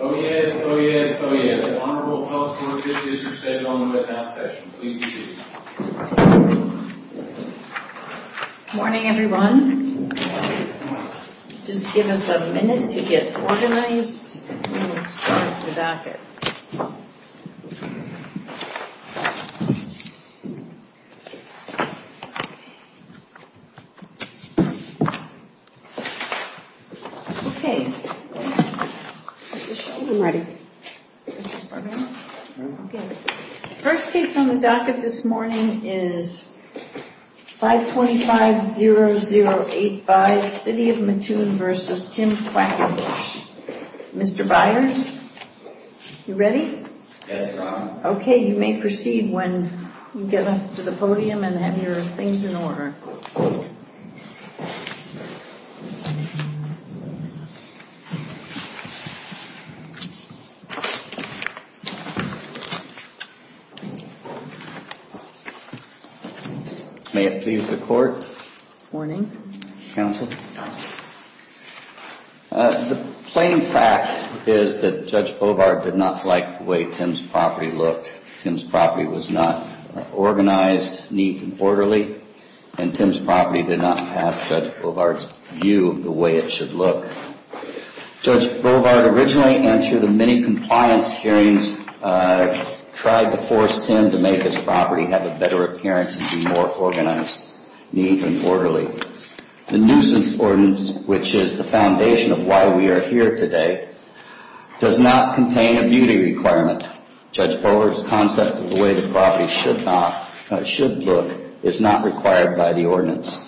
Oyez, oyez, oyez. Honorable public, you are 50% on the webcast session. Please be seated. Morning, everyone. Just give us a minute to get organized, and we'll start at the back. First case on the docket this morning is 525-0085, City of Mattoon v. Tim Quakenbush. Mr. Byers, you ready? Yes, Your Honor. Okay, you may proceed when you get up to the podium and have your things in order. May it please the Court. Morning. Counsel. The plain fact is that Judge Bovard did not like the way Tim's property looked. Tim's property was not organized neat and orderly, and Tim's property did not pass Judge Bovard's view of the way it should look. Judge Bovard originally, and through the many compliance hearings, tried to force Tim to make his property have a better appearance and be more organized, neat and orderly. The nuisance ordinance, which is the foundation of why we are here today, does not contain a beauty requirement. Judge Bovard's concept of the way the property should look is not required by the ordinance.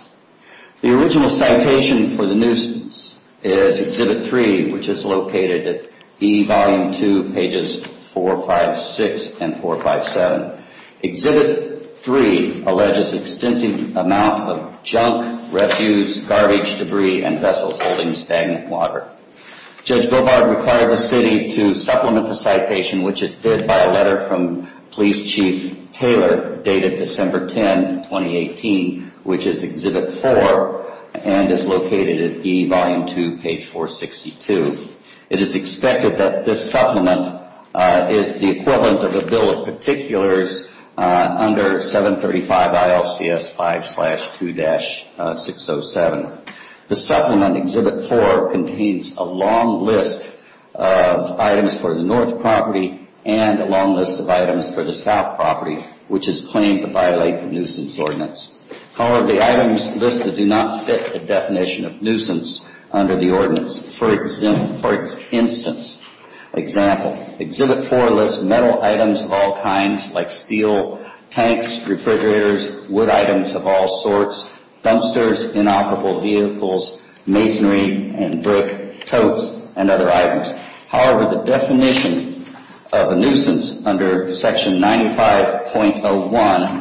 The original citation for the nuisance is Exhibit 3, which is located at E, Volume 2, pages 456 and 457. Exhibit 3 alleges extensive amount of junk, refuse, garbage, debris, and vessels holding stagnant water. Judge Bovard required the City to supplement the citation, which it did, by a letter from Police Chief Taylor dated December 10, 2018, which is Exhibit 4 and is located at E, Volume 2, page 462. It is expected that this supplement is the equivalent of a bill of particulars under 735 ILCS 5-2-607. The supplement, Exhibit 4, contains a long list of items for the north property and a long list of items for the south property, which is claimed to violate the nuisance ordinance. However, the items listed do not fit the definition of nuisance under the ordinance. For instance, Exhibit 4 lists metal items of all kinds, like steel tanks, refrigerators, wood items of all sorts, dumpsters, inoperable vehicles, masonry and brick, totes, and other items. However, the definition of a nuisance under Section 95.01,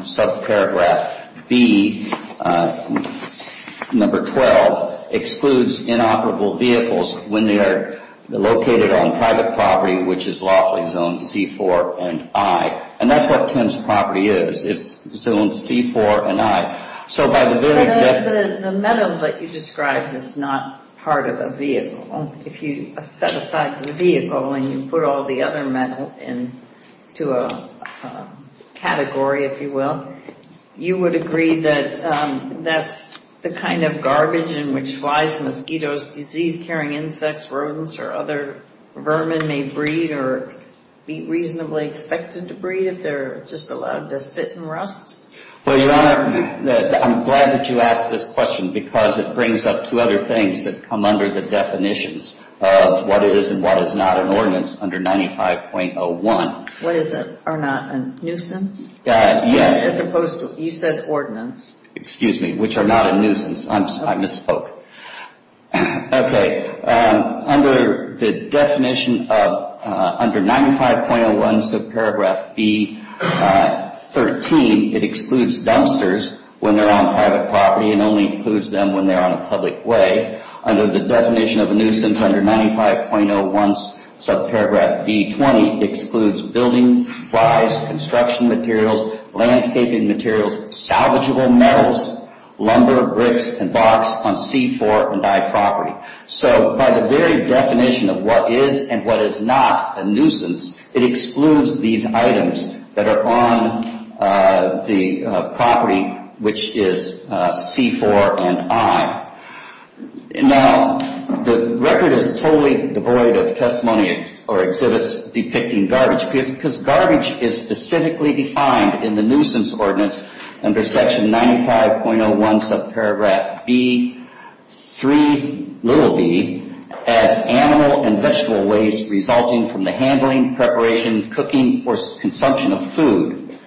Subparagraph B, Number 12, excludes inoperable vehicles when they are located on private property, which is lawfully zoned C-4 and I. And that's what Tim's property is. It's zoned C-4 and I. But the metal that you described is not part of a vehicle. If you set aside the vehicle and you put all the other metal into a category, if you will, you would agree that that's the kind of garbage in which flies, mosquitoes, disease-carrying insects, rodents, or other vermin may breed or be reasonably expected to breed if they're just allowed to sit and rust? Well, Your Honor, I'm glad that you asked this question because it brings up two other things that come under the definitions of what is and what is not an ordinance under 95.01. What is or not a nuisance? Yes. As opposed to, you said ordinance. Excuse me, which are not a nuisance. I misspoke. Okay. So by the very definition of what is and what is not a nuisance, it excludes these items that are on the property, which is C-4 and I. Now, the record is totally devoid of testimonies or exhibits depicting garbage because garbage is specifically defined in the nuisance ordinance under section 95.01 subparagraph B-3b as animal and vegetable waste resulting from the handling, preparation, cooking, or consumption of food.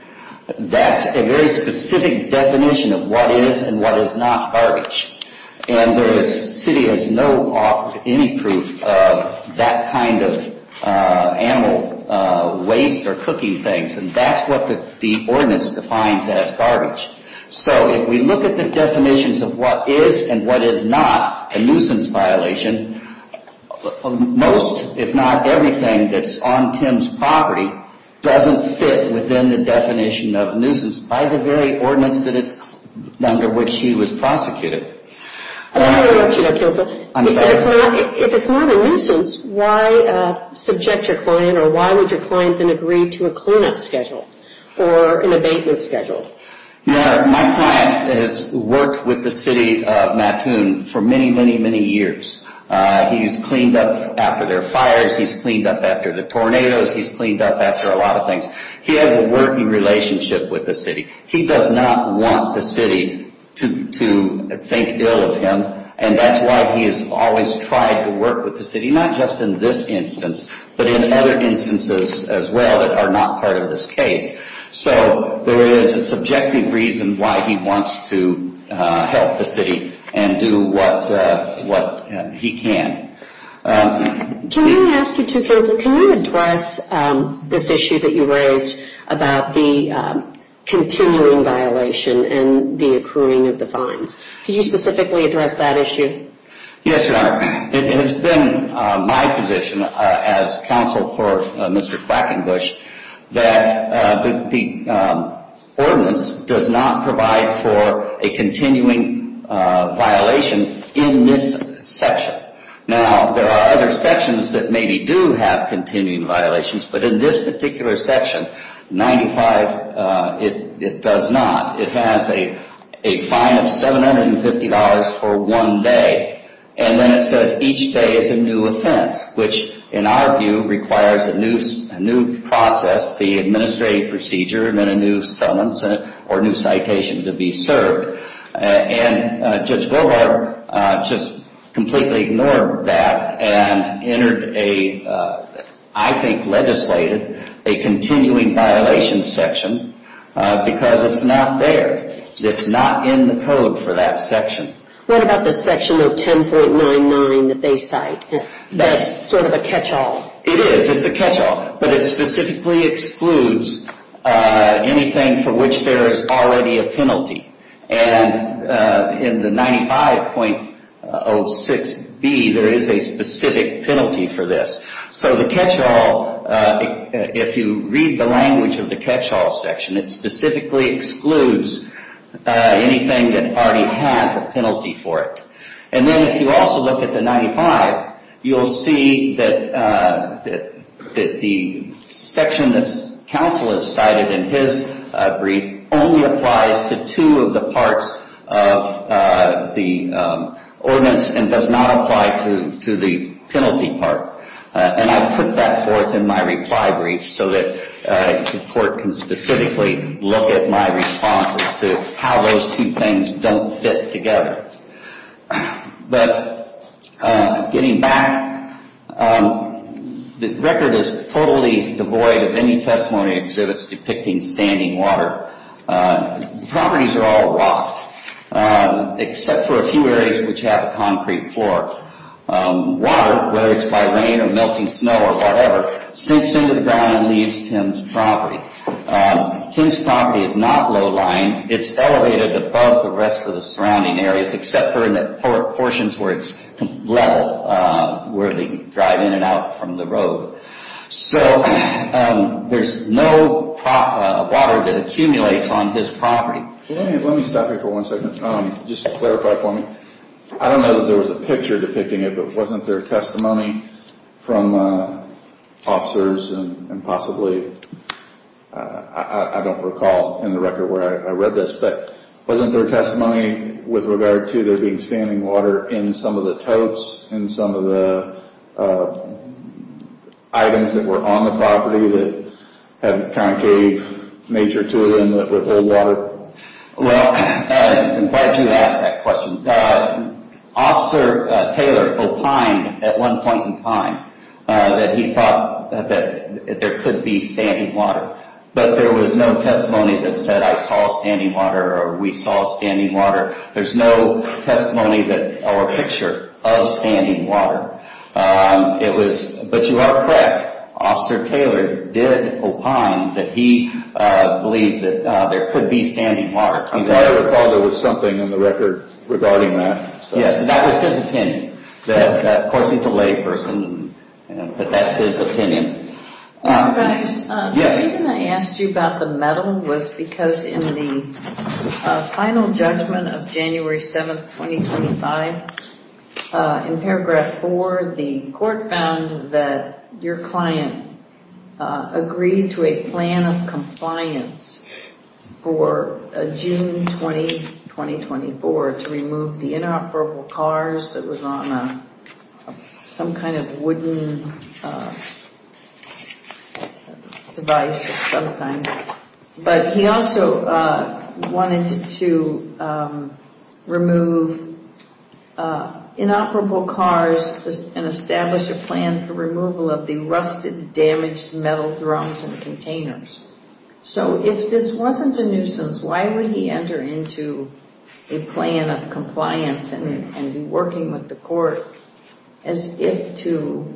That's a very specific definition of what is and what is not garbage. And the city has no offer of any proof of that kind of animal waste or cooking things. And that's what the ordinance defines as garbage. So if we look at the definitions of what is and what is not a nuisance violation, most, if not everything, that's on Tim's property doesn't fit within the definition of nuisance by the very ordinance under which he was prosecuted. If it's not a nuisance, why subject your client or why would your client then agree to a cleanup schedule or an abatement schedule? Yeah, my client has worked with the city of Mattoon for many, many, many years. He's cleaned up after their fires. He's cleaned up after the tornadoes. He's cleaned up after a lot of things. He has a working relationship with the city. He does not want the city to think ill of him, and that's why he has always tried to work with the city, not just in this instance, but in other instances as well that are not part of this case. So there is a subjective reason why he wants to help the city and do what he can. Can you address this issue that you raised about the continuing violation and the accruing of the fines? Can you specifically address that issue? Yes, Your Honor. It has been my position as counsel for Mr. Quackenbush that the ordinance does not provide for a continuing violation in this section. Now, there are other sections that maybe do have continuing violations, but in this particular section, 95, it does not. It has a fine of $750 for one day, and then it says each day is a new offense, which in our view requires a new process, the administrative procedure, and then a new summons or new citation to be served. And Judge Goldwater just completely ignored that and entered a, I think legislated, a continuing violation section because it's not there. It's not in the code for that section. What about the section of 10.99 that they cite? That's sort of a catch-all. It is. It's a catch-all, but it specifically excludes anything for which there is already a penalty. And in the 95.06b, there is a specific penalty for this. So the catch-all, if you read the language of the catch-all section, it specifically excludes anything that already has a penalty for it. And then if you also look at the 95, you'll see that the section that counsel has cited in his brief only applies to two of the parts of the ordinance and does not apply to the penalty part. And I put that forth in my reply brief so that the court can specifically look at my responses to how those two things don't fit together. But getting back, the record is totally devoid of any testimony exhibits depicting standing water. The properties are all rocked, except for a few areas which have a concrete floor. Water, whether it's by rain or melting snow or whatever, seeps into the ground and leaves Tim's property. Tim's property is not low-lying. It's elevated above the rest of the surrounding areas, except for in the portions where it's level, where they can drive in and out from the road. So there's no water that accumulates on his property. Let me stop here for one second. Just clarify for me. I don't know that there was a picture depicting it, but wasn't there testimony from officers and possibly, I don't recall in the record where I read this, but wasn't there testimony with regard to there being standing water in some of the totes, in some of the items that were on the property that had a concave nature to them with old water? Well, why did you ask that question? Officer Taylor opined at one point in time that he thought that there could be standing water. But there was no testimony that said, I saw standing water or we saw standing water. There's no testimony or picture of standing water. But you are correct. Officer Taylor did opine that he believed that there could be standing water. I recall there was something in the record regarding that. Yes, that was his opinion. Of course, he's a layperson, but that's his opinion. The reason I asked you about the metal was because in the final judgment of January 7th, 2025, in paragraph four, the court found that your client agreed to a plan of compliance for June 20, 2024 to remove the inoperable cars that was on some kind of wooden device of some kind. But he also wanted to remove inoperable cars and establish a plan for removal of the rusted, damaged metal drums and containers. So if this wasn't a nuisance, why would he enter into a plan of compliance and be working with the court as if to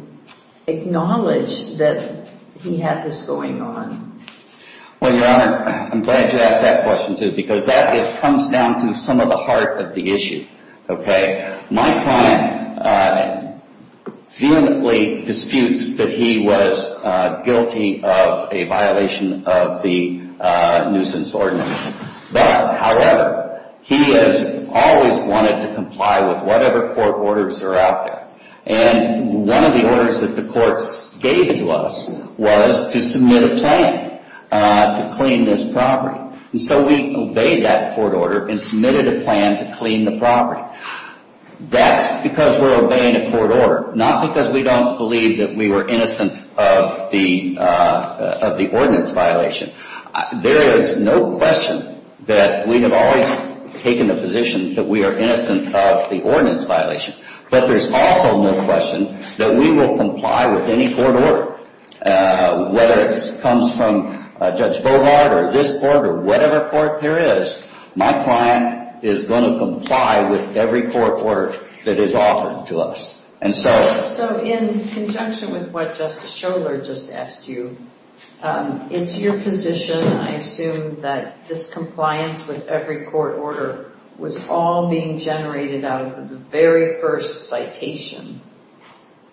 acknowledge that he had this going on? Well, Your Honor, I'm glad you asked that question, too, because that comes down to some of the heart of the issue. My client vehemently disputes that he was guilty of a violation of the nuisance ordinance. But, however, he has always wanted to comply with whatever court orders are out there. And one of the orders that the courts gave to us was to submit a plan to clean this property. And so we obeyed that court order and submitted a plan to clean the property. That's because we're obeying a court order, not because we don't believe that we were innocent of the ordinance violation. There is no question that we have always taken the position that we are innocent of the ordinance violation. But there's also no question that we will comply with any court order, whether it comes from Judge Bovard or this court or whatever court there is. My client is going to comply with every court order that is offered to us. So in conjunction with what Justice Scholar just asked you, it's your position, I assume, that this compliance with every court order was all being generated out of the very first citation,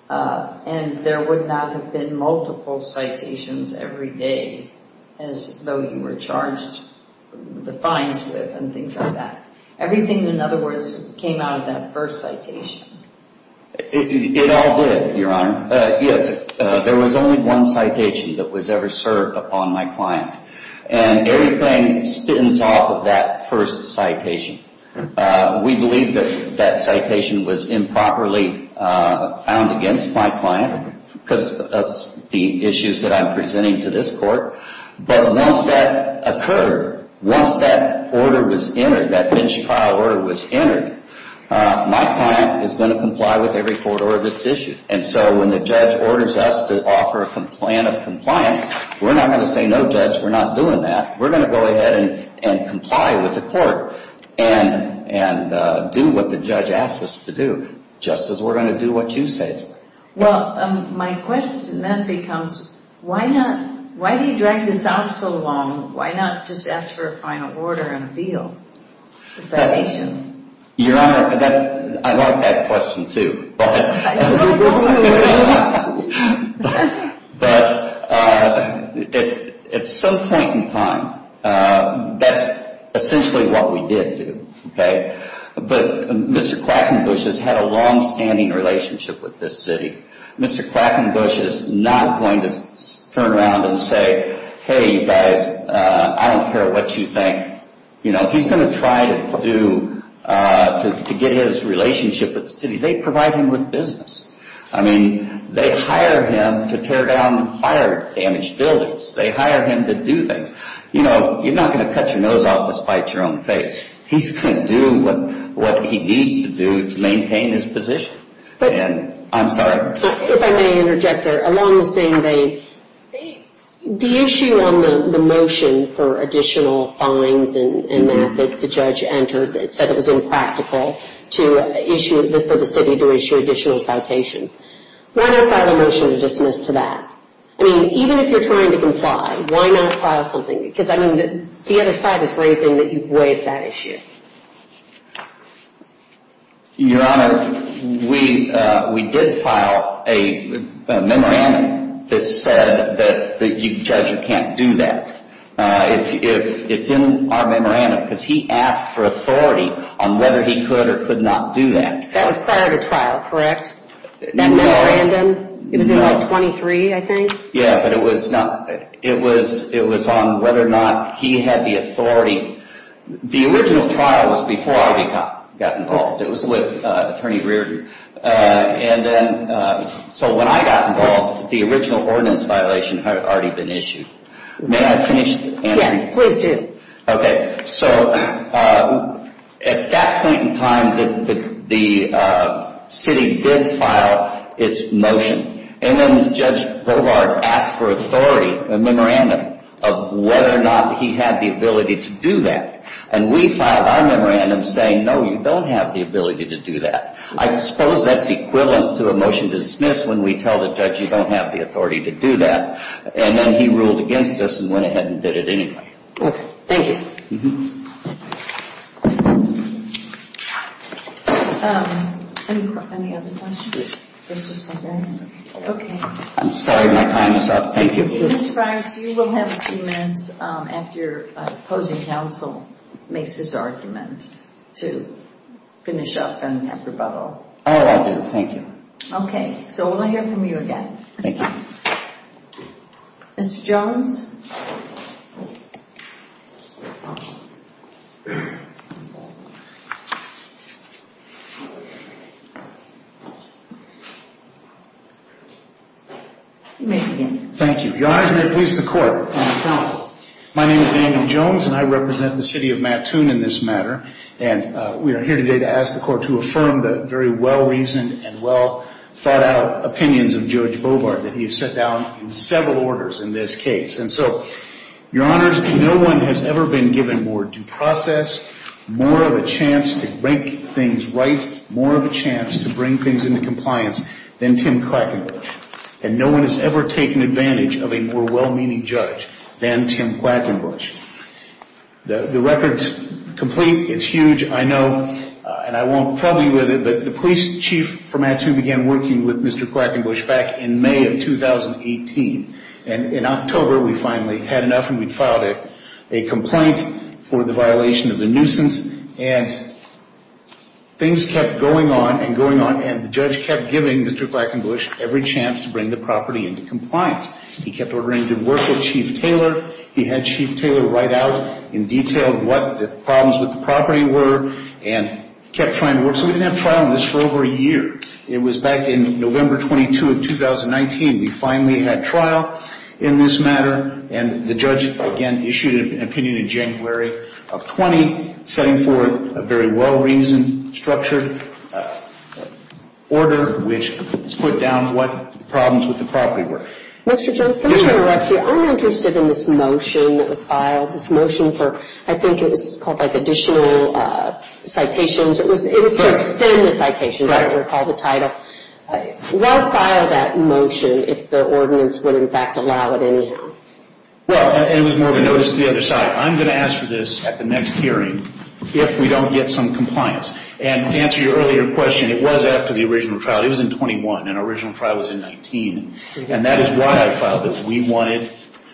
and there would not have been multiple citations every day as though you were charged the fines with and things like that. Everything, in other words, came out of that first citation. It all did, Your Honor. Yes, there was only one citation that was ever served upon my client. And everything spins off of that first citation. We believe that that citation was improperly found against my client because of the issues that I'm presenting to this court. But once that occurred, once that order was entered, that bench trial order was entered, my client is going to comply with every court order that's issued. And so when the judge orders us to offer a plan of compliance, we're not going to say no, Judge, we're not doing that. We're going to go ahead and comply with the court and do what the judge asked us to do, just as we're going to do what you said. Well, my question then becomes, why do you drag this out so long? Why not just ask for a final order and appeal the citation? Your Honor, I like that question, too. But at some point in time, that's essentially what we did do, okay? But Mr. Quackenbush has had a longstanding relationship with this city. Mr. Quackenbush is not going to turn around and say, hey, you guys, I don't care what you think. You know, he's going to try to get his relationship with the city. They provide him with business. I mean, they hire him to tear down and fire damaged buildings. They hire him to do things. You know, you're not going to cut your nose off to spite your own face. He's going to do what he needs to do to maintain his position, and I'm sorry. If I may interject there, along the same vein, the issue on the motion for additional fines and that, that the judge entered that said it was impractical for the city to issue additional citations, why not file a motion to dismiss to that? I mean, even if you're trying to comply, why not file something? Because, I mean, the other side is raising that you've waived that issue. Your Honor, we did file a memorandum that said that you judge you can't do that. It's in our memorandum because he asked for authority on whether he could or could not do that. That was prior to trial, correct? No. That memorandum? No. It was in Article 23, I think? Yeah, but it was on whether or not he had the authority. The original trial was before I got involved. It was with Attorney Reardon. And then, so when I got involved, the original ordinance violation had already been issued. May I finish the answer? Yes, please do. Okay. So at that point in time, the city did file its motion. And then Judge Bovard asked for authority, a memorandum, of whether or not he had the ability to do that. And we filed our memorandum saying, no, you don't have the ability to do that. I suppose that's equivalent to a motion to dismiss when we tell the judge you don't have the authority to do that. And then he ruled against us and went ahead and did it anyway. Okay. Thank you. Any other questions? Okay. I'm sorry my time is up. Thank you. Mr. Fires, you will have a few minutes after opposing counsel makes his argument to finish up and have rebuttal. Oh, I will do. Thank you. Okay. So we'll hear from you again. Thank you. Mr. Jones? You may begin. Thank you. Your Honors, may it please the Court, I'm a counsel. My name is Daniel Jones, and I represent the city of Mattoon in this matter. And we are here today to ask the Court to affirm the very well-reasoned and well-thought-out opinions of Judge Bovard, that he has set down several orders in this case. And so, Your Honors, no one has ever been given more due process, more of a chance to make things right, more of a chance to bring things into compliance than Tim Quackenbush. And no one has ever taken advantage of a more well-meaning judge than Tim Quackenbush. The record's complete. It's huge, I know. And I won't trouble you with it, but the police chief from Mattoon began working with Mr. Quackenbush back in May of 2018. And in October, we finally had enough, and we filed a complaint for the violation of the nuisance. And things kept going on and going on, and the judge kept giving Mr. Quackenbush every chance to bring the property into compliance. He kept ordering him to work with Chief Taylor. He had Chief Taylor write out in detail what the problems with the property were and kept trying to work. So we didn't have trial on this for over a year. It was back in November 22 of 2019. We finally had trial in this matter. And the judge, again, issued an opinion in January of 20, setting forth a very well-reasoned, structured order, which put down what the problems with the property were. Mr. Jones, let me interrupt you. I'm interested in this motion that was filed, this motion for, I think it was called like additional citations. It was to extend the citations, I recall the title. Why file that motion if the ordinance would in fact allow it anyhow? Well, it was more of a notice to the other side. I'm going to ask for this at the next hearing if we don't get some compliance. And to answer your earlier question, it was after the original trial. It was in 21, and our original trial was in 19. And that is why I filed it. We wanted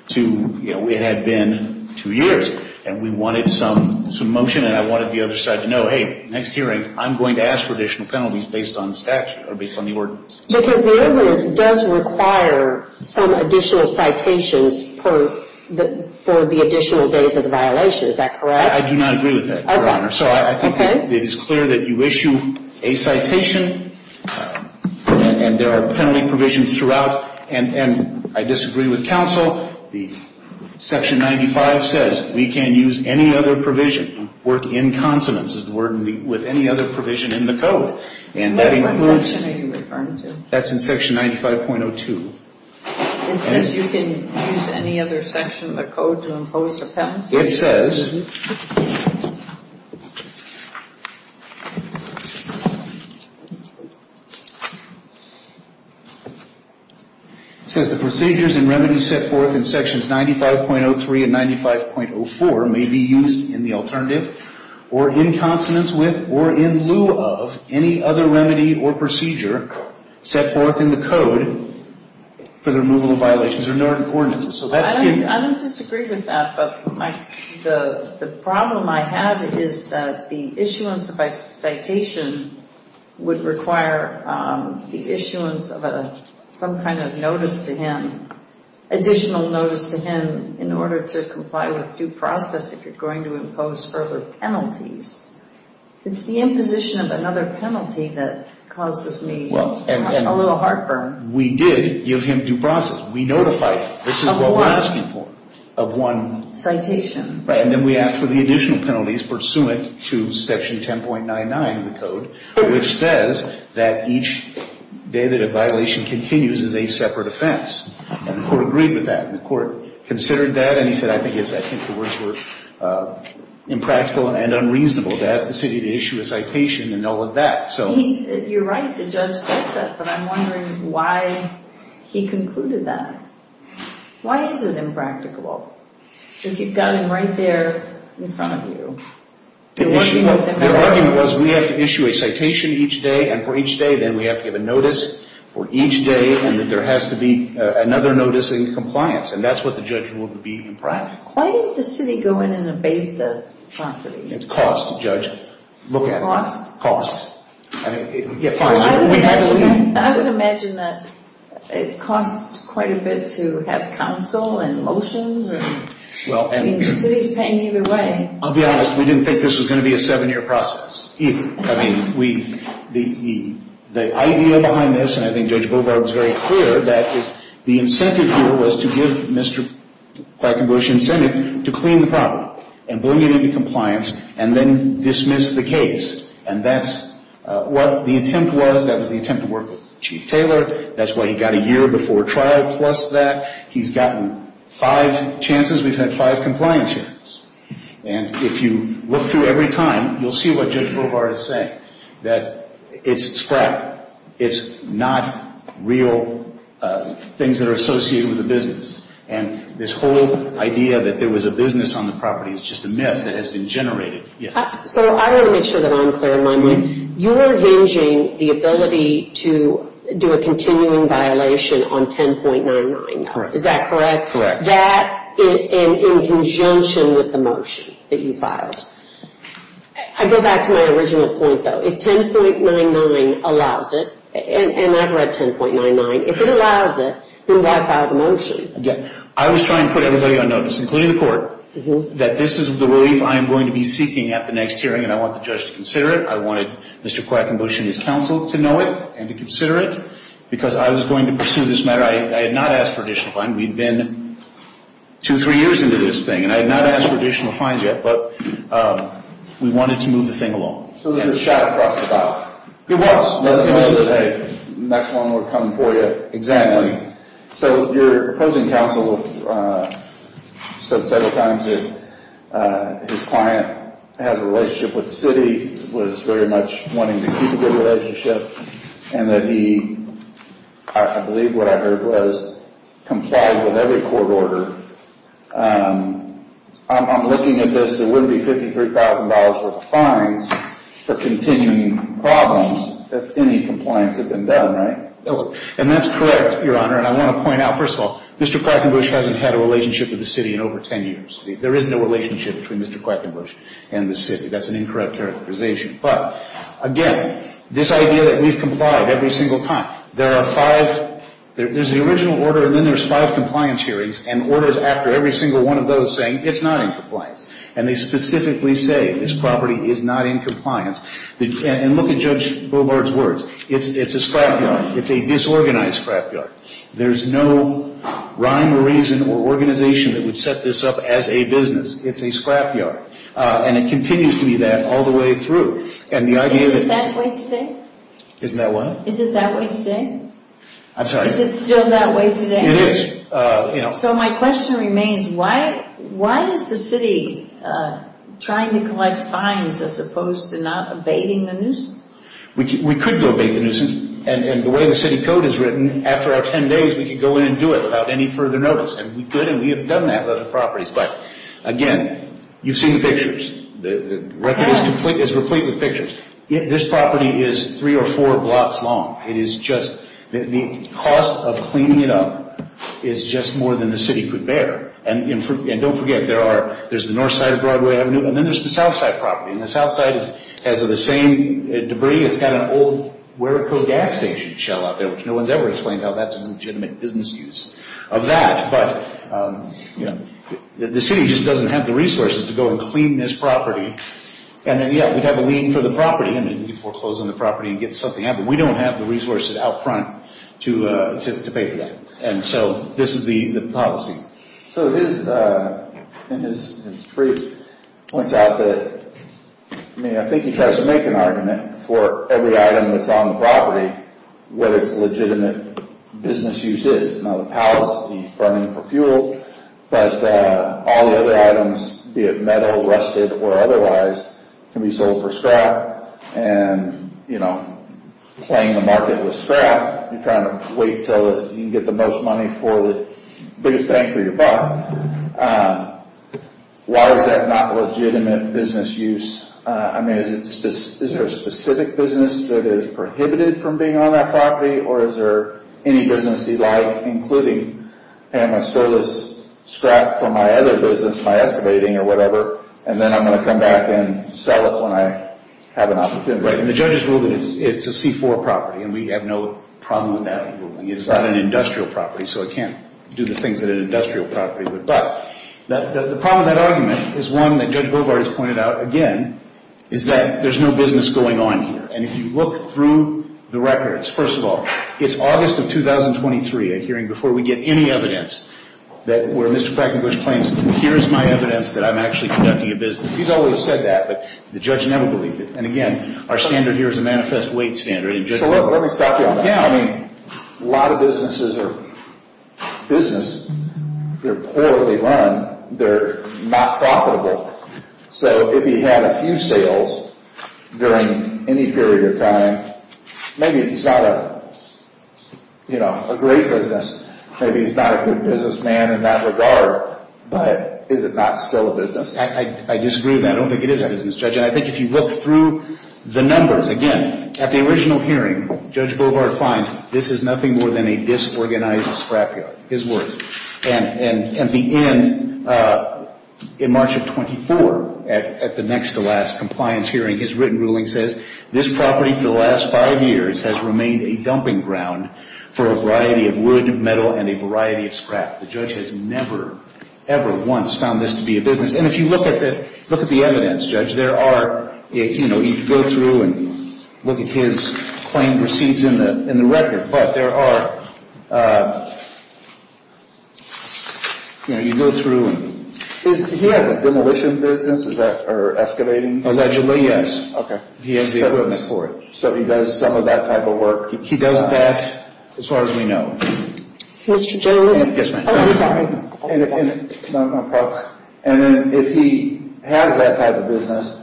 to, you know, it had been two years. And we wanted some motion, and I wanted the other side to know, hey, next hearing, I'm going to ask for additional penalties based on statute or based on the ordinance. Because the ordinance does require some additional citations for the additional days of the violation. Is that correct? I do not agree with that, Your Honor. Okay. So I think it is clear that you issue a citation, and there are penalty provisions throughout. And I disagree with counsel. Section 95 says we can use any other provision, work in consonance is the word, with any other provision in the code. And that includes. What section are you referring to? That's in section 95.02. It says you can use any other section of the code to impose a penalty? It says. It says the procedures and remedies set forth in sections 95.03 and 95.04 may be used in the alternative or in consonance with or in lieu of any other remedy or procedure set forth in the code for the removal of violations. There are no other coordinates. I don't disagree with that. But the problem I have is that the issuance of a citation would require the issuance of some kind of notice to him, additional notice to him in order to comply with due process if you're going to impose further penalties. It's the imposition of another penalty that causes me a little heartburn. We did give him due process. We notified him. This is what we're asking for. Of one. Citation. Right. And then we asked for the additional penalties pursuant to section 10.99 of the code, which says that each day that a violation continues is a separate offense. And the court agreed with that. And the court considered that. And he said, I think it's, I think the words were impractical and unreasonable to ask the city to issue a citation and all of that. You're right. The judge says that. But I'm wondering why he concluded that. Why is it impractical if you've got him right there in front of you? The argument was we have to issue a citation each day. And for each day, then we have to give a notice for each day and that there has to be another notice in compliance. And that's what the judge ruled to be impractical. Why didn't the city go in and abate the property? Cost, Judge. Look at it. Cost? I would imagine that it costs quite a bit to have counsel and motions. I mean, the city's paying either way. I'll be honest. We didn't think this was going to be a seven-year process either. I mean, the idea behind this, and I think Judge Bovar was very clear, that the incentive here was to give Mr. Quackenbush incentive to clean the property and bring it into compliance and then dismiss the case. And that's what the attempt was. That was the attempt to work with Chief Taylor. That's why he got a year before trial plus that. He's gotten five chances. We've had five compliance hearings. And if you look through every time, you'll see what Judge Bovar is saying, that it's scrap. It's not real things that are associated with the business. And this whole idea that there was a business on the property is just a myth that has been generated. So I want to make sure that I'm clear in my mind. You are hinging the ability to do a continuing violation on 10.99, though. Is that correct? Correct. That and in conjunction with the motion that you filed. I go back to my original point, though. If 10.99 allows it, and I've read 10.99, if it allows it, then why file the motion? I was trying to put everybody on notice, including the court, that this is the relief I am going to be seeking at the next hearing. And I want the judge to consider it. I wanted Mr. Quackenbush and his counsel to know it and to consider it because I was going to pursue this matter. I had not asked for additional fines. We'd been two, three years into this thing, and I had not asked for additional fines yet. But we wanted to move the thing along. So it was a shadow process file? It was. The next one would come for you. Exactly. So your opposing counsel said several times that his client has a relationship with the city, was very much wanting to keep a good relationship, and that he, I believe what I heard was, complied with every court order. I'm looking at this. It wouldn't be $53,000 worth of fines for continuing problems if any compliance had been done, right? Okay. And that's correct, Your Honor. And I want to point out, first of all, Mr. Quackenbush hasn't had a relationship with the city in over 10 years. There is no relationship between Mr. Quackenbush and the city. That's an incorrect characterization. But, again, this idea that we've complied every single time, there are five, there's the original order, and then there's five compliance hearings and orders after every single one of those saying it's not in compliance. And they specifically say this property is not in compliance. And look at Judge Bovard's words. It's a scrapyard. It's a disorganized scrapyard. There's no rhyme or reason or organization that would set this up as a business. It's a scrapyard. And it continues to be that all the way through. Isn't it that way today? Isn't that what? Isn't it that way today? I'm sorry? Is it still that way today? It is. So my question remains, why is the city trying to collect fines as opposed to not abating the nuisance? We could go abate the nuisance. And the way the city code is written, after our 10 days, we could go in and do it without any further notice. And we could, and we have done that with other properties. But, again, you've seen the pictures. The record is complete with pictures. This property is three or four blocks long. It is just, the cost of cleaning it up is just more than the city could bear. And don't forget, there's the north side of Broadway Avenue, and then there's the south side property. And the south side has the same debris. It's got an old wear code gas station shell out there, which no one's ever explained how that's a legitimate business use of that. But, you know, the city just doesn't have the resources to go and clean this property. And then, yeah, we'd have a lien for the property. And we'd be foreclosing the property and get something out. But we don't have the resources out front to pay for that. And so this is the policy. So his, in his brief, points out that, I mean, I think he tries to make an argument for every item that's on the property, what its legitimate business use is. Now, the palace, he's burning for fuel. But all the other items, be it metal, rusted, or otherwise, can be sold for scrap. And, you know, playing the market with scrap, you're trying to wait until you can get the most money for the biggest bang for your buck. Why is that not legitimate business use? I mean, is there a specific business that is prohibited from being on that property? Or is there any business he'd like, including, hey, I'm going to sell this scrap for my other business by excavating or whatever. And then I'm going to come back and sell it when I have an opportunity. Right. And the judges rule that it's a C-4 property. And we have no problem with that. It's not an industrial property. So it can't do the things that an industrial property would. But the problem with that argument is one that Judge Bovard has pointed out, again, is that there's no business going on here. And if you look through the records, first of all, it's August of 2023, a hearing before we get any evidence, where Mr. Crackenbush claims, here's my evidence that I'm actually conducting a business. He's always said that, but the judge never believed it. And, again, our standard here is a manifest weight standard. So let me stop you on that. Yeah, I mean, a lot of businesses are business. They're poorly run. They're not profitable. So if he had a few sales during any period of time, maybe it's not a great business. Maybe he's not a good businessman in that regard. But is it not still a business? I disagree with that. I don't think it is a business, Judge. And I think if you look through the numbers, again, at the original hearing, Judge Bovard finds this is nothing more than a disorganized scrapyard. His words. And at the end, in March of 24, at the next to last compliance hearing, his written ruling says, this property for the last five years has remained a dumping ground for a variety of wood, metal, and a variety of scrap. The judge has never, ever once found this to be a business. And if you look at the evidence, Judge, there are, you know, you can go through and look at his claim proceeds in the record. But there are, you know, you go through. He has a demolition business? Or excavating? Allegedly, yes. Okay. He has the equipment for it. So he does some of that type of work. He does that, as far as we know. Mr. Jay, was it? Yes, ma'am. Oh, I'm sorry. And if he has that type of business,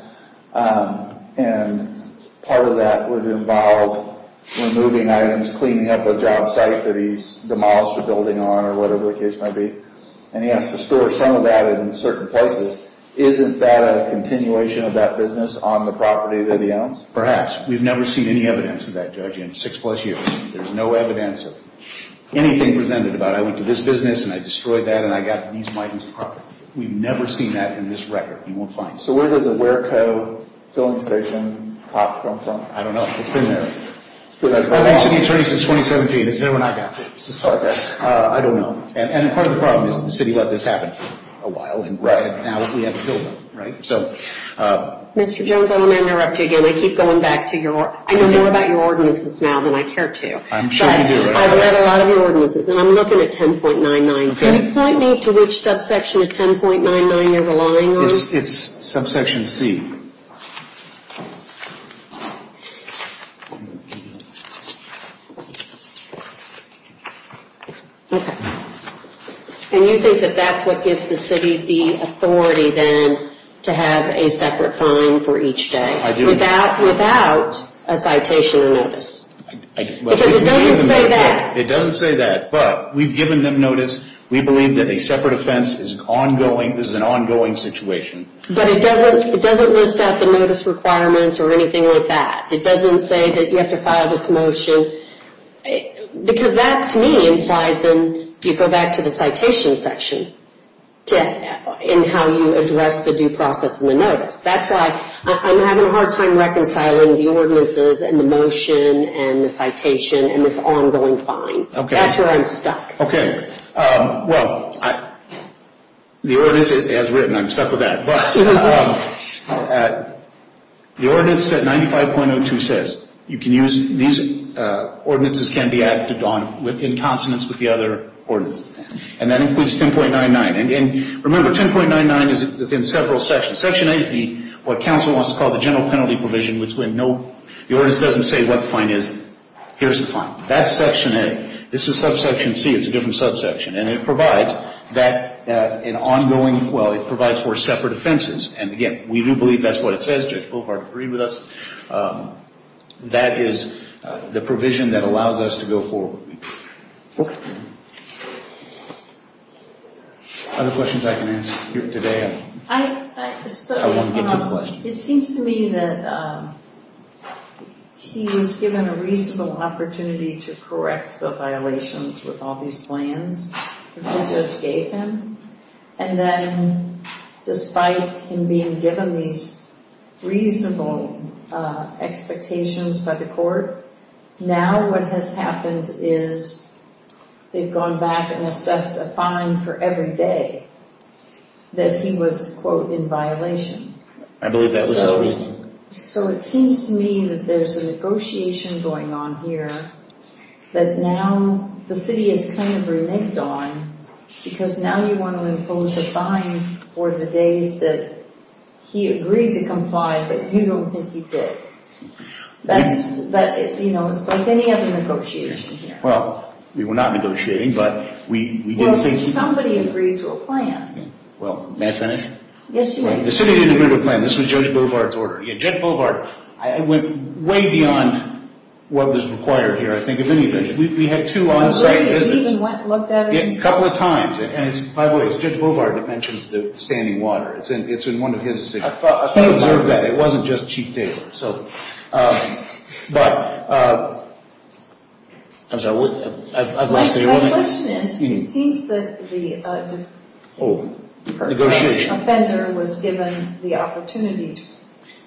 and part of that would involve removing items, cleaning up a job site that he's demolished a building on, or whatever the case might be, and he has to store some of that in certain places. Isn't that a continuation of that business on the property that he owns? We've never seen any evidence of that, Judge, in six plus years. There's no evidence of anything presented about, I went to this business, and I destroyed that, and I got these items of property. We've never seen that in this record. You won't find it. So where does the WERCO filling station top come from? I don't know. It's been there. It's been there for a while. I've been city attorney since 2017. It's there when I got this. Okay. I don't know. And part of the problem is the city let this happen for a while. Right. And now we have a building, right? Mr. Jones, I'm going to interrupt you again. I keep going back to your, I know more about your ordinances now than I care to. I'm sure you do. But I've read a lot of your ordinances, and I'm looking at 10.99. Can you point me to which subsection of 10.99 you're relying on? It's subsection C. Okay. And you think that that's what gives the city the authority then to have a separate fine for each day? I do. Without a citation or notice? Because it doesn't say that. It doesn't say that. But we've given them notice. We believe that a separate offense is ongoing. This is an ongoing situation. But it doesn't list out the notice requirements or anything like that? It doesn't say that you have to file this motion? Because that, to me, implies then you go back to the citation section in how you address the due process and the notice. That's why I'm having a hard time reconciling the ordinances and the motion and the citation and this ongoing fine. That's where I'm stuck. Okay. Well, the ordinance, as written, I'm stuck with that. But the ordinance at 95.02 says these ordinances can be acted on in consonance with the other ordinances. And that includes 10.99. And remember, 10.99 is within several sections. Section A is what counsel wants to call the general penalty provision, which the ordinance doesn't say what the fine is. Here's the fine. That's section A. This is subsection C. It's a different subsection. And it provides for separate offenses. And, again, we do believe that's what it says. Judge Bohlhardt agreed with us. That is the provision that allows us to go forward. Other questions I can answer here today? I want to get to the question. It seems to me that he was given a reasonable opportunity to correct the violations with all these plans that the judge gave him. And then despite him being given these reasonable expectations by the court, now what has happened is they've gone back and assessed a fine for every day that he was, quote, in violation. I believe that was his reasoning. So it seems to me that there's a negotiation going on here that now the city has kind of reneged on because now you want to impose a fine for the days that he agreed to comply but you don't think he did. That's, you know, it's like any other negotiation here. Well, we were not negotiating, but we did think he... Well, did somebody agree to a plan? Well, may I finish? Yes, you may. The city didn't agree to a plan. This was Judge Bovard's order. Yeah, Judge Bovard went way beyond what was required here, I think, of any of this. We had two on-site visits. I believe that he even went and looked at it himself. Yeah, a couple of times. And, by the way, it's Judge Bovard that mentions the standing water. It's in one of his... I thought I observed that. It wasn't just Chief Taylor. But, I'm sorry, I've lost the order. My question is, it seems that the offender was given the opportunity to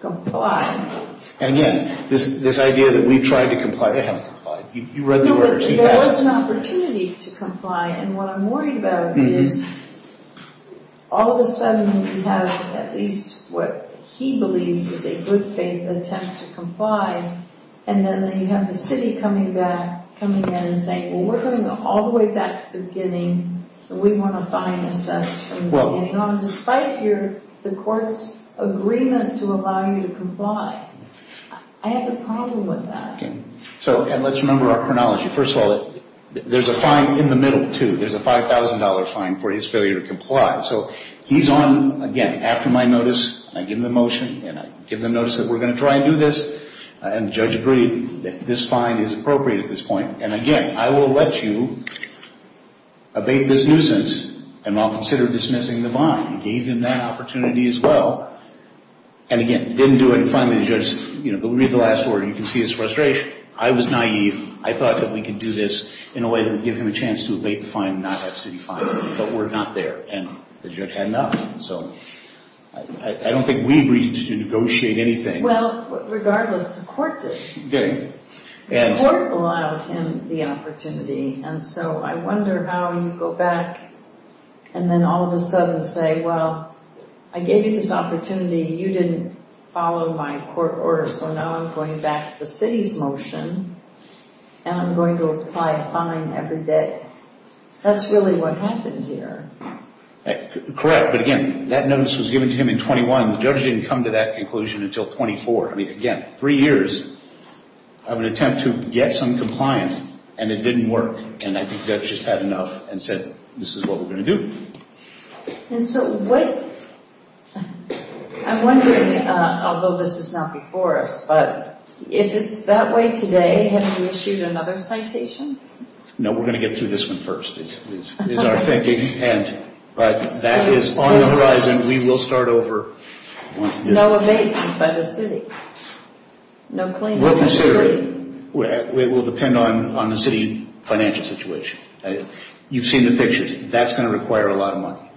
comply. And yet, this idea that we've tried to comply, they haven't complied. You read the order. No, but there was an opportunity to comply, and what I'm worried about is, all of a sudden, you have at least what he believes is a good faith attempt to comply, and then you have the city coming in and saying, well, we're going all the way back to the beginning, and we want a fine assessed from the beginning on, despite the court's agreement to allow you to comply. I have a problem with that. And let's remember our chronology. First of all, there's a fine in the middle, too. There's a $5,000 fine for his failure to comply. So he's on, again, after my notice, I give him the motion, and I give them notice that we're going to try and do this, and the judge agreed that this fine is appropriate at this point. And, again, I will let you abate this nuisance, and I'll consider dismissing the fine. He gave them that opportunity as well. And, again, didn't do it, and finally the judge, you know, read the last order, you can see his frustration. I was naive. I thought that we could do this in a way that would give him a chance to abate the fine and not have city fines, but we're not there. And the judge had enough. So I don't think we agreed to negotiate anything. Well, regardless, the court did. The court allowed him the opportunity, and so I wonder how you go back and then all of a sudden say, well, I gave you this opportunity. You didn't follow my court order, so now I'm going back to the city's motion, and I'm going to apply a fine every day. That's really what happened here. Correct, but, again, that notice was given to him in 21. The judge didn't come to that conclusion until 24. I mean, again, three years of an attempt to get some compliance, and it didn't work, and I think the judge just had enough and said, this is what we're going to do. And so what – I'm wondering, although this is not before us, but if it's that way today, have you issued another citation? No, we're going to get through this one first, is our thinking. But that is on the horizon. We will start over once this – No evasion by the city. We'll consider it. It will depend on the city financial situation. You've seen the pictures. That's going to require a lot of money,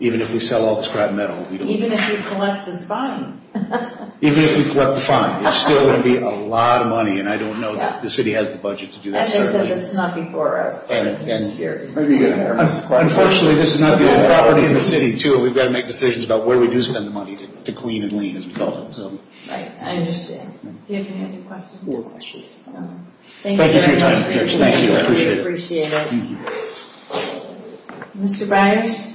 even if we sell all the scrap metal. Even if you collect this fine. Even if we collect the fine, it's still going to be a lot of money, and I don't know that the city has the budget to do that. As I said, that's not before us. Unfortunately, this is not the only property in the city, too, and we've got to make decisions about where we do spend the money to clean and lean, as we call it. Right, I understand. Do you have any other questions? No questions. Thank you for your time. Thank you. I appreciate it. We appreciate it. Mr. Byers?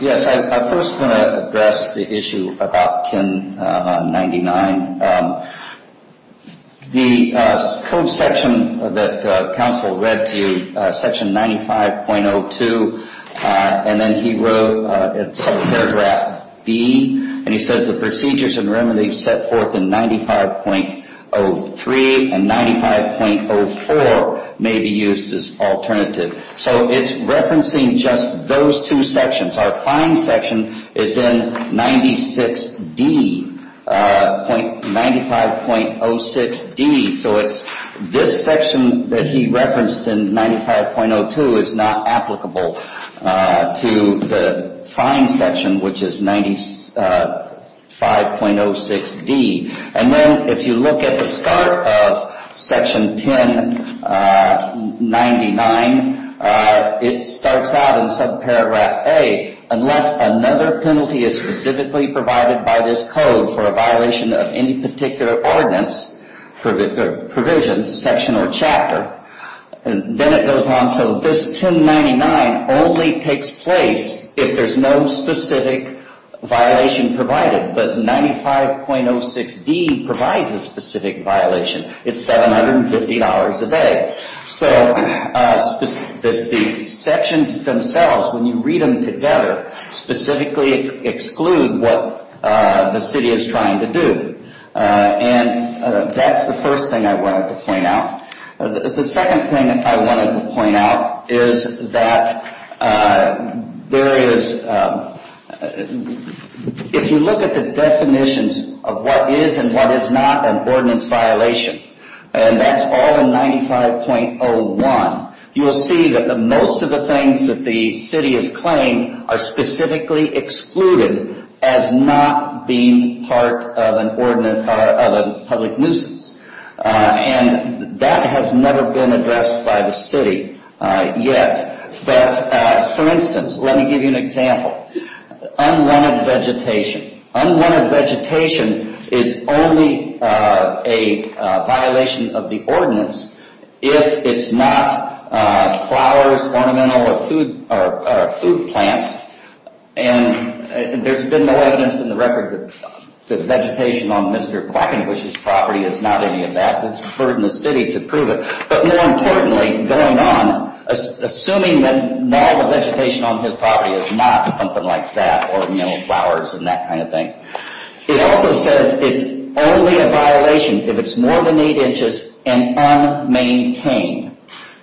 Yes, I first want to address the issue about 1099. The code section that counsel read to you, section 95.02, and then he wrote paragraph B, and he says the procedures and remedies set forth in 95.03 and 95.04 may be used as alternative. So it's referencing just those two sections. Our fine section is in 96D, 95.06D. So it's this section that he referenced in 95.02 is not applicable to the fine section, which is 95.06D. And then if you look at the start of section 1099, it starts out in subparagraph A. Unless another penalty is specifically provided by this code for a violation of any particular ordinance, provision, section, or chapter, then it goes on. So this 1099 only takes place if there's no specific violation provided. But 95.06D provides a specific violation. It's $750 a day. So the sections themselves, when you read them together, specifically exclude what the city is trying to do. And that's the first thing I wanted to point out. The second thing I wanted to point out is that there is, if you look at the definitions of what is and what is not an ordinance violation, and that's all in 95.01, you will see that most of the things that the city has claimed are specifically excluded as not being part of an ordinance or of a public nuisance. And that has never been addressed by the city yet. But, for instance, let me give you an example. Unwanted vegetation. Unwanted vegetation is only a violation of the ordinance if it's not flowers, ornamental, or food plants. And there's been no evidence in the record that vegetation on Mr. Quackenglish's property is not any of that. It's a burden to the city to prove it. But more importantly, going on, assuming that all the vegetation on his property is not something like that, or ornamental flowers and that kind of thing. It also says it's only a violation if it's more than eight inches and unmaintained.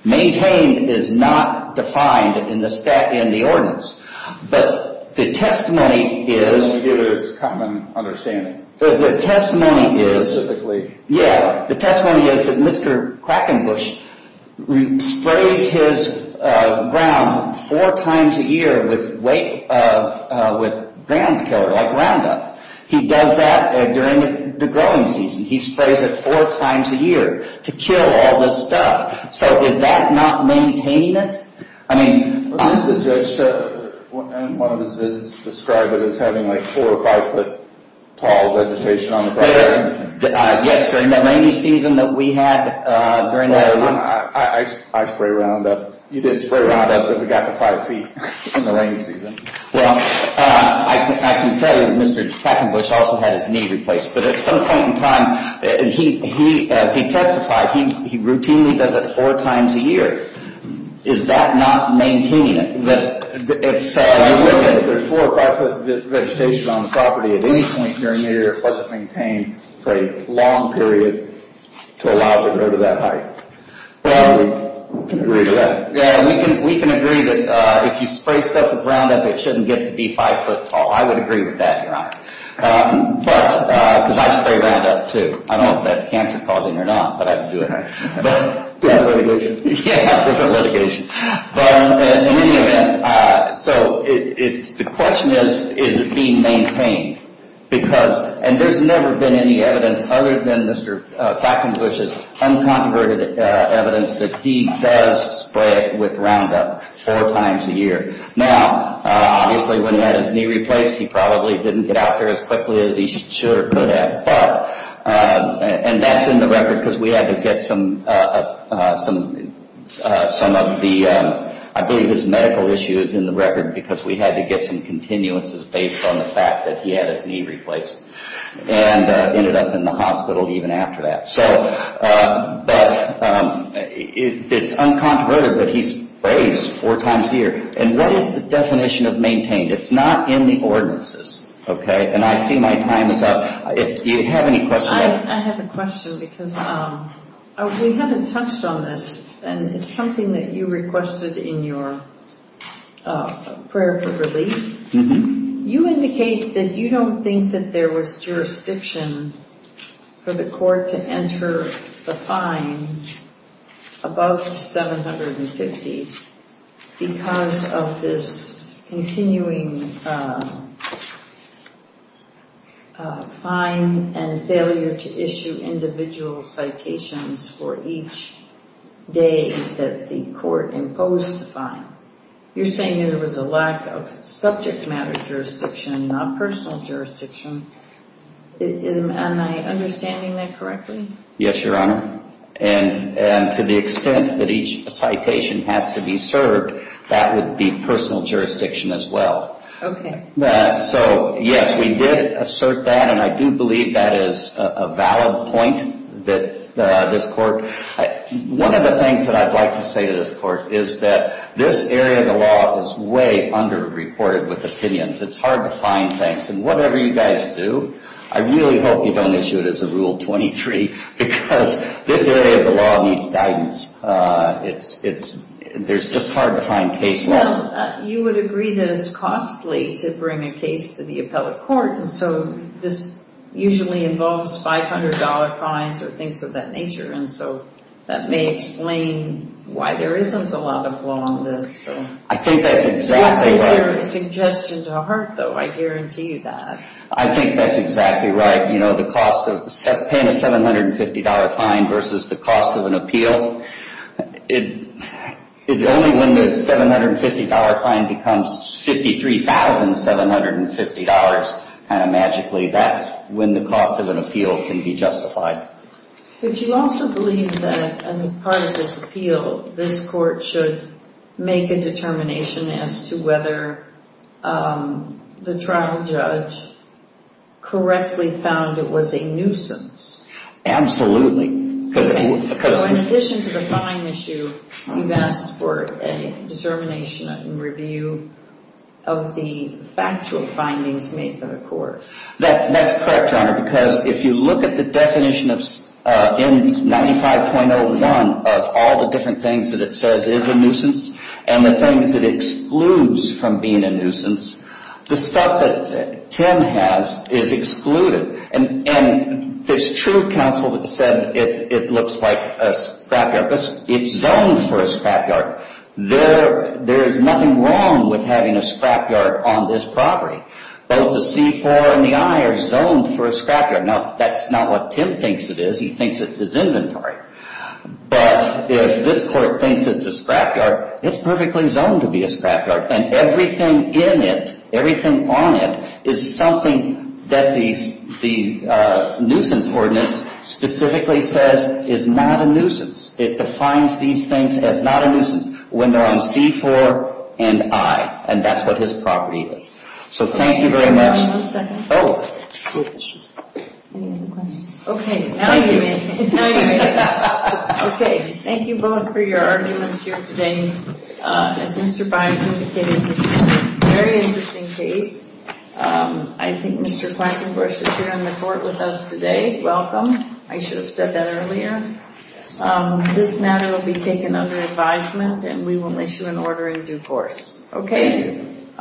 Maintained is not defined in the stat, in the ordinance. But the testimony is... Let me get a common understanding. The testimony is... Specifically. Yeah. The testimony is that Mr. Quackenglish sprays his ground four times a year with ground killer, like Roundup. He does that during the growing season. He sprays it four times a year to kill all this stuff. So is that not maintaining it? I mean... Didn't the judge, in one of his visits, describe it as having like four or five foot tall vegetation on the property? Yes, during the rainy season that we had. Well, I spray Roundup. You did spray Roundup, but we got to five feet in the rainy season. Well, I can tell you that Mr. Quackenglish also had his knee replaced. But at some point in time, as he testified, he routinely does it four times a year. Is that not maintaining it? If there's four or five foot vegetation on the property at any point during the year, it wasn't maintained for a long period to allow it to go to that height. We can agree to that. We can agree that if you spray stuff with Roundup, it shouldn't get to be five foot tall. I would agree with that, Your Honor. But... Because I spray Roundup too. I don't know if that's cancer causing or not, but I do it. Different litigation. You can't have different litigation. But in any event, so it's... The question is, is it being maintained? Because... And there's never been any evidence other than Mr. Quackenglish's uncontroverted evidence that he does spray it with Roundup four times a year. Now, obviously when he had his knee replaced, he probably didn't get out there as quickly as he sure could have. But... And that's in the record because we had to get some of the... I believe his medical issue is in the record because we had to get some continuances based on the fact that he had his knee replaced. And ended up in the hospital even after that. So... But... It's uncontroverted, but he sprays four times a year. And what is the definition of maintained? It's not in the ordinances. Okay? And I see my time is up. Do you have any questions? I have a question because we haven't touched on this. And it's something that you requested in your prayer for relief. You indicate that you don't think that there was jurisdiction for the court to enter the fine above 750 because of this continuing fine and failure to issue individual citations for each day that the court imposed the fine. You're saying there was a lack of subject matter jurisdiction, not personal jurisdiction. Am I understanding that correctly? Yes, Your Honor. And to the extent that each citation has to be served, that would be personal jurisdiction as well. Okay. So, yes, we did assert that. And I do believe that is a valid point that this court... One of the things that I'd like to say to this court is that this area of the law is way underreported with opinions. It's hard to find things. And whatever you guys do, I really hope you don't issue it as a Rule 23 because this area of the law needs guidance. There's just hard to find case law. You would agree that it's costly to bring a case to the appellate court. And so this usually involves $500 fines or things of that nature. And so that may explain why there isn't a lot of law on this. I think that's exactly right. It's not a suggestion to hurt, though. I guarantee you that. I think that's exactly right. Paying a $750 fine versus the cost of an appeal, only when the $750 fine becomes $53,750 kind of magically, that's when the cost of an appeal can be justified. Would you also believe that as a part of this appeal, this court should make a determination as to whether the trial judge correctly found it was a nuisance? So in addition to the fine issue, you've asked for a determination and review of the factual findings made by the court. That's correct, Your Honor, because if you look at the definition in 95.01 of all the different things that it says is a nuisance and the things that it excludes from being a nuisance, the stuff that Tim has is excluded. And there's two counsels that said it looks like a scrapyard. It's zoned for a scrapyard. There's nothing wrong with having a scrapyard on this property. Both the C-4 and the I are zoned for a scrapyard. Now, that's not what Tim thinks it is. He thinks it's his inventory. But if this court thinks it's a scrapyard, it's perfectly zoned to be a scrapyard. And everything in it, everything on it, is something that the nuisance ordinance specifically says is not a nuisance. It defines these things as not a nuisance when they're on C-4 and I, and that's what his property is. So thank you very much. One second. Oh. Any other questions? Okay. Thank you. Okay. Thank you both for your arguments here today. As Mr. Bynum indicated, this is a very interesting case. I think Mr. Quackenbush is here in the court with us today. Welcome. I should have said that earlier. This matter will be taken under advisement, and we will issue an order in due course. Okay. Thank you.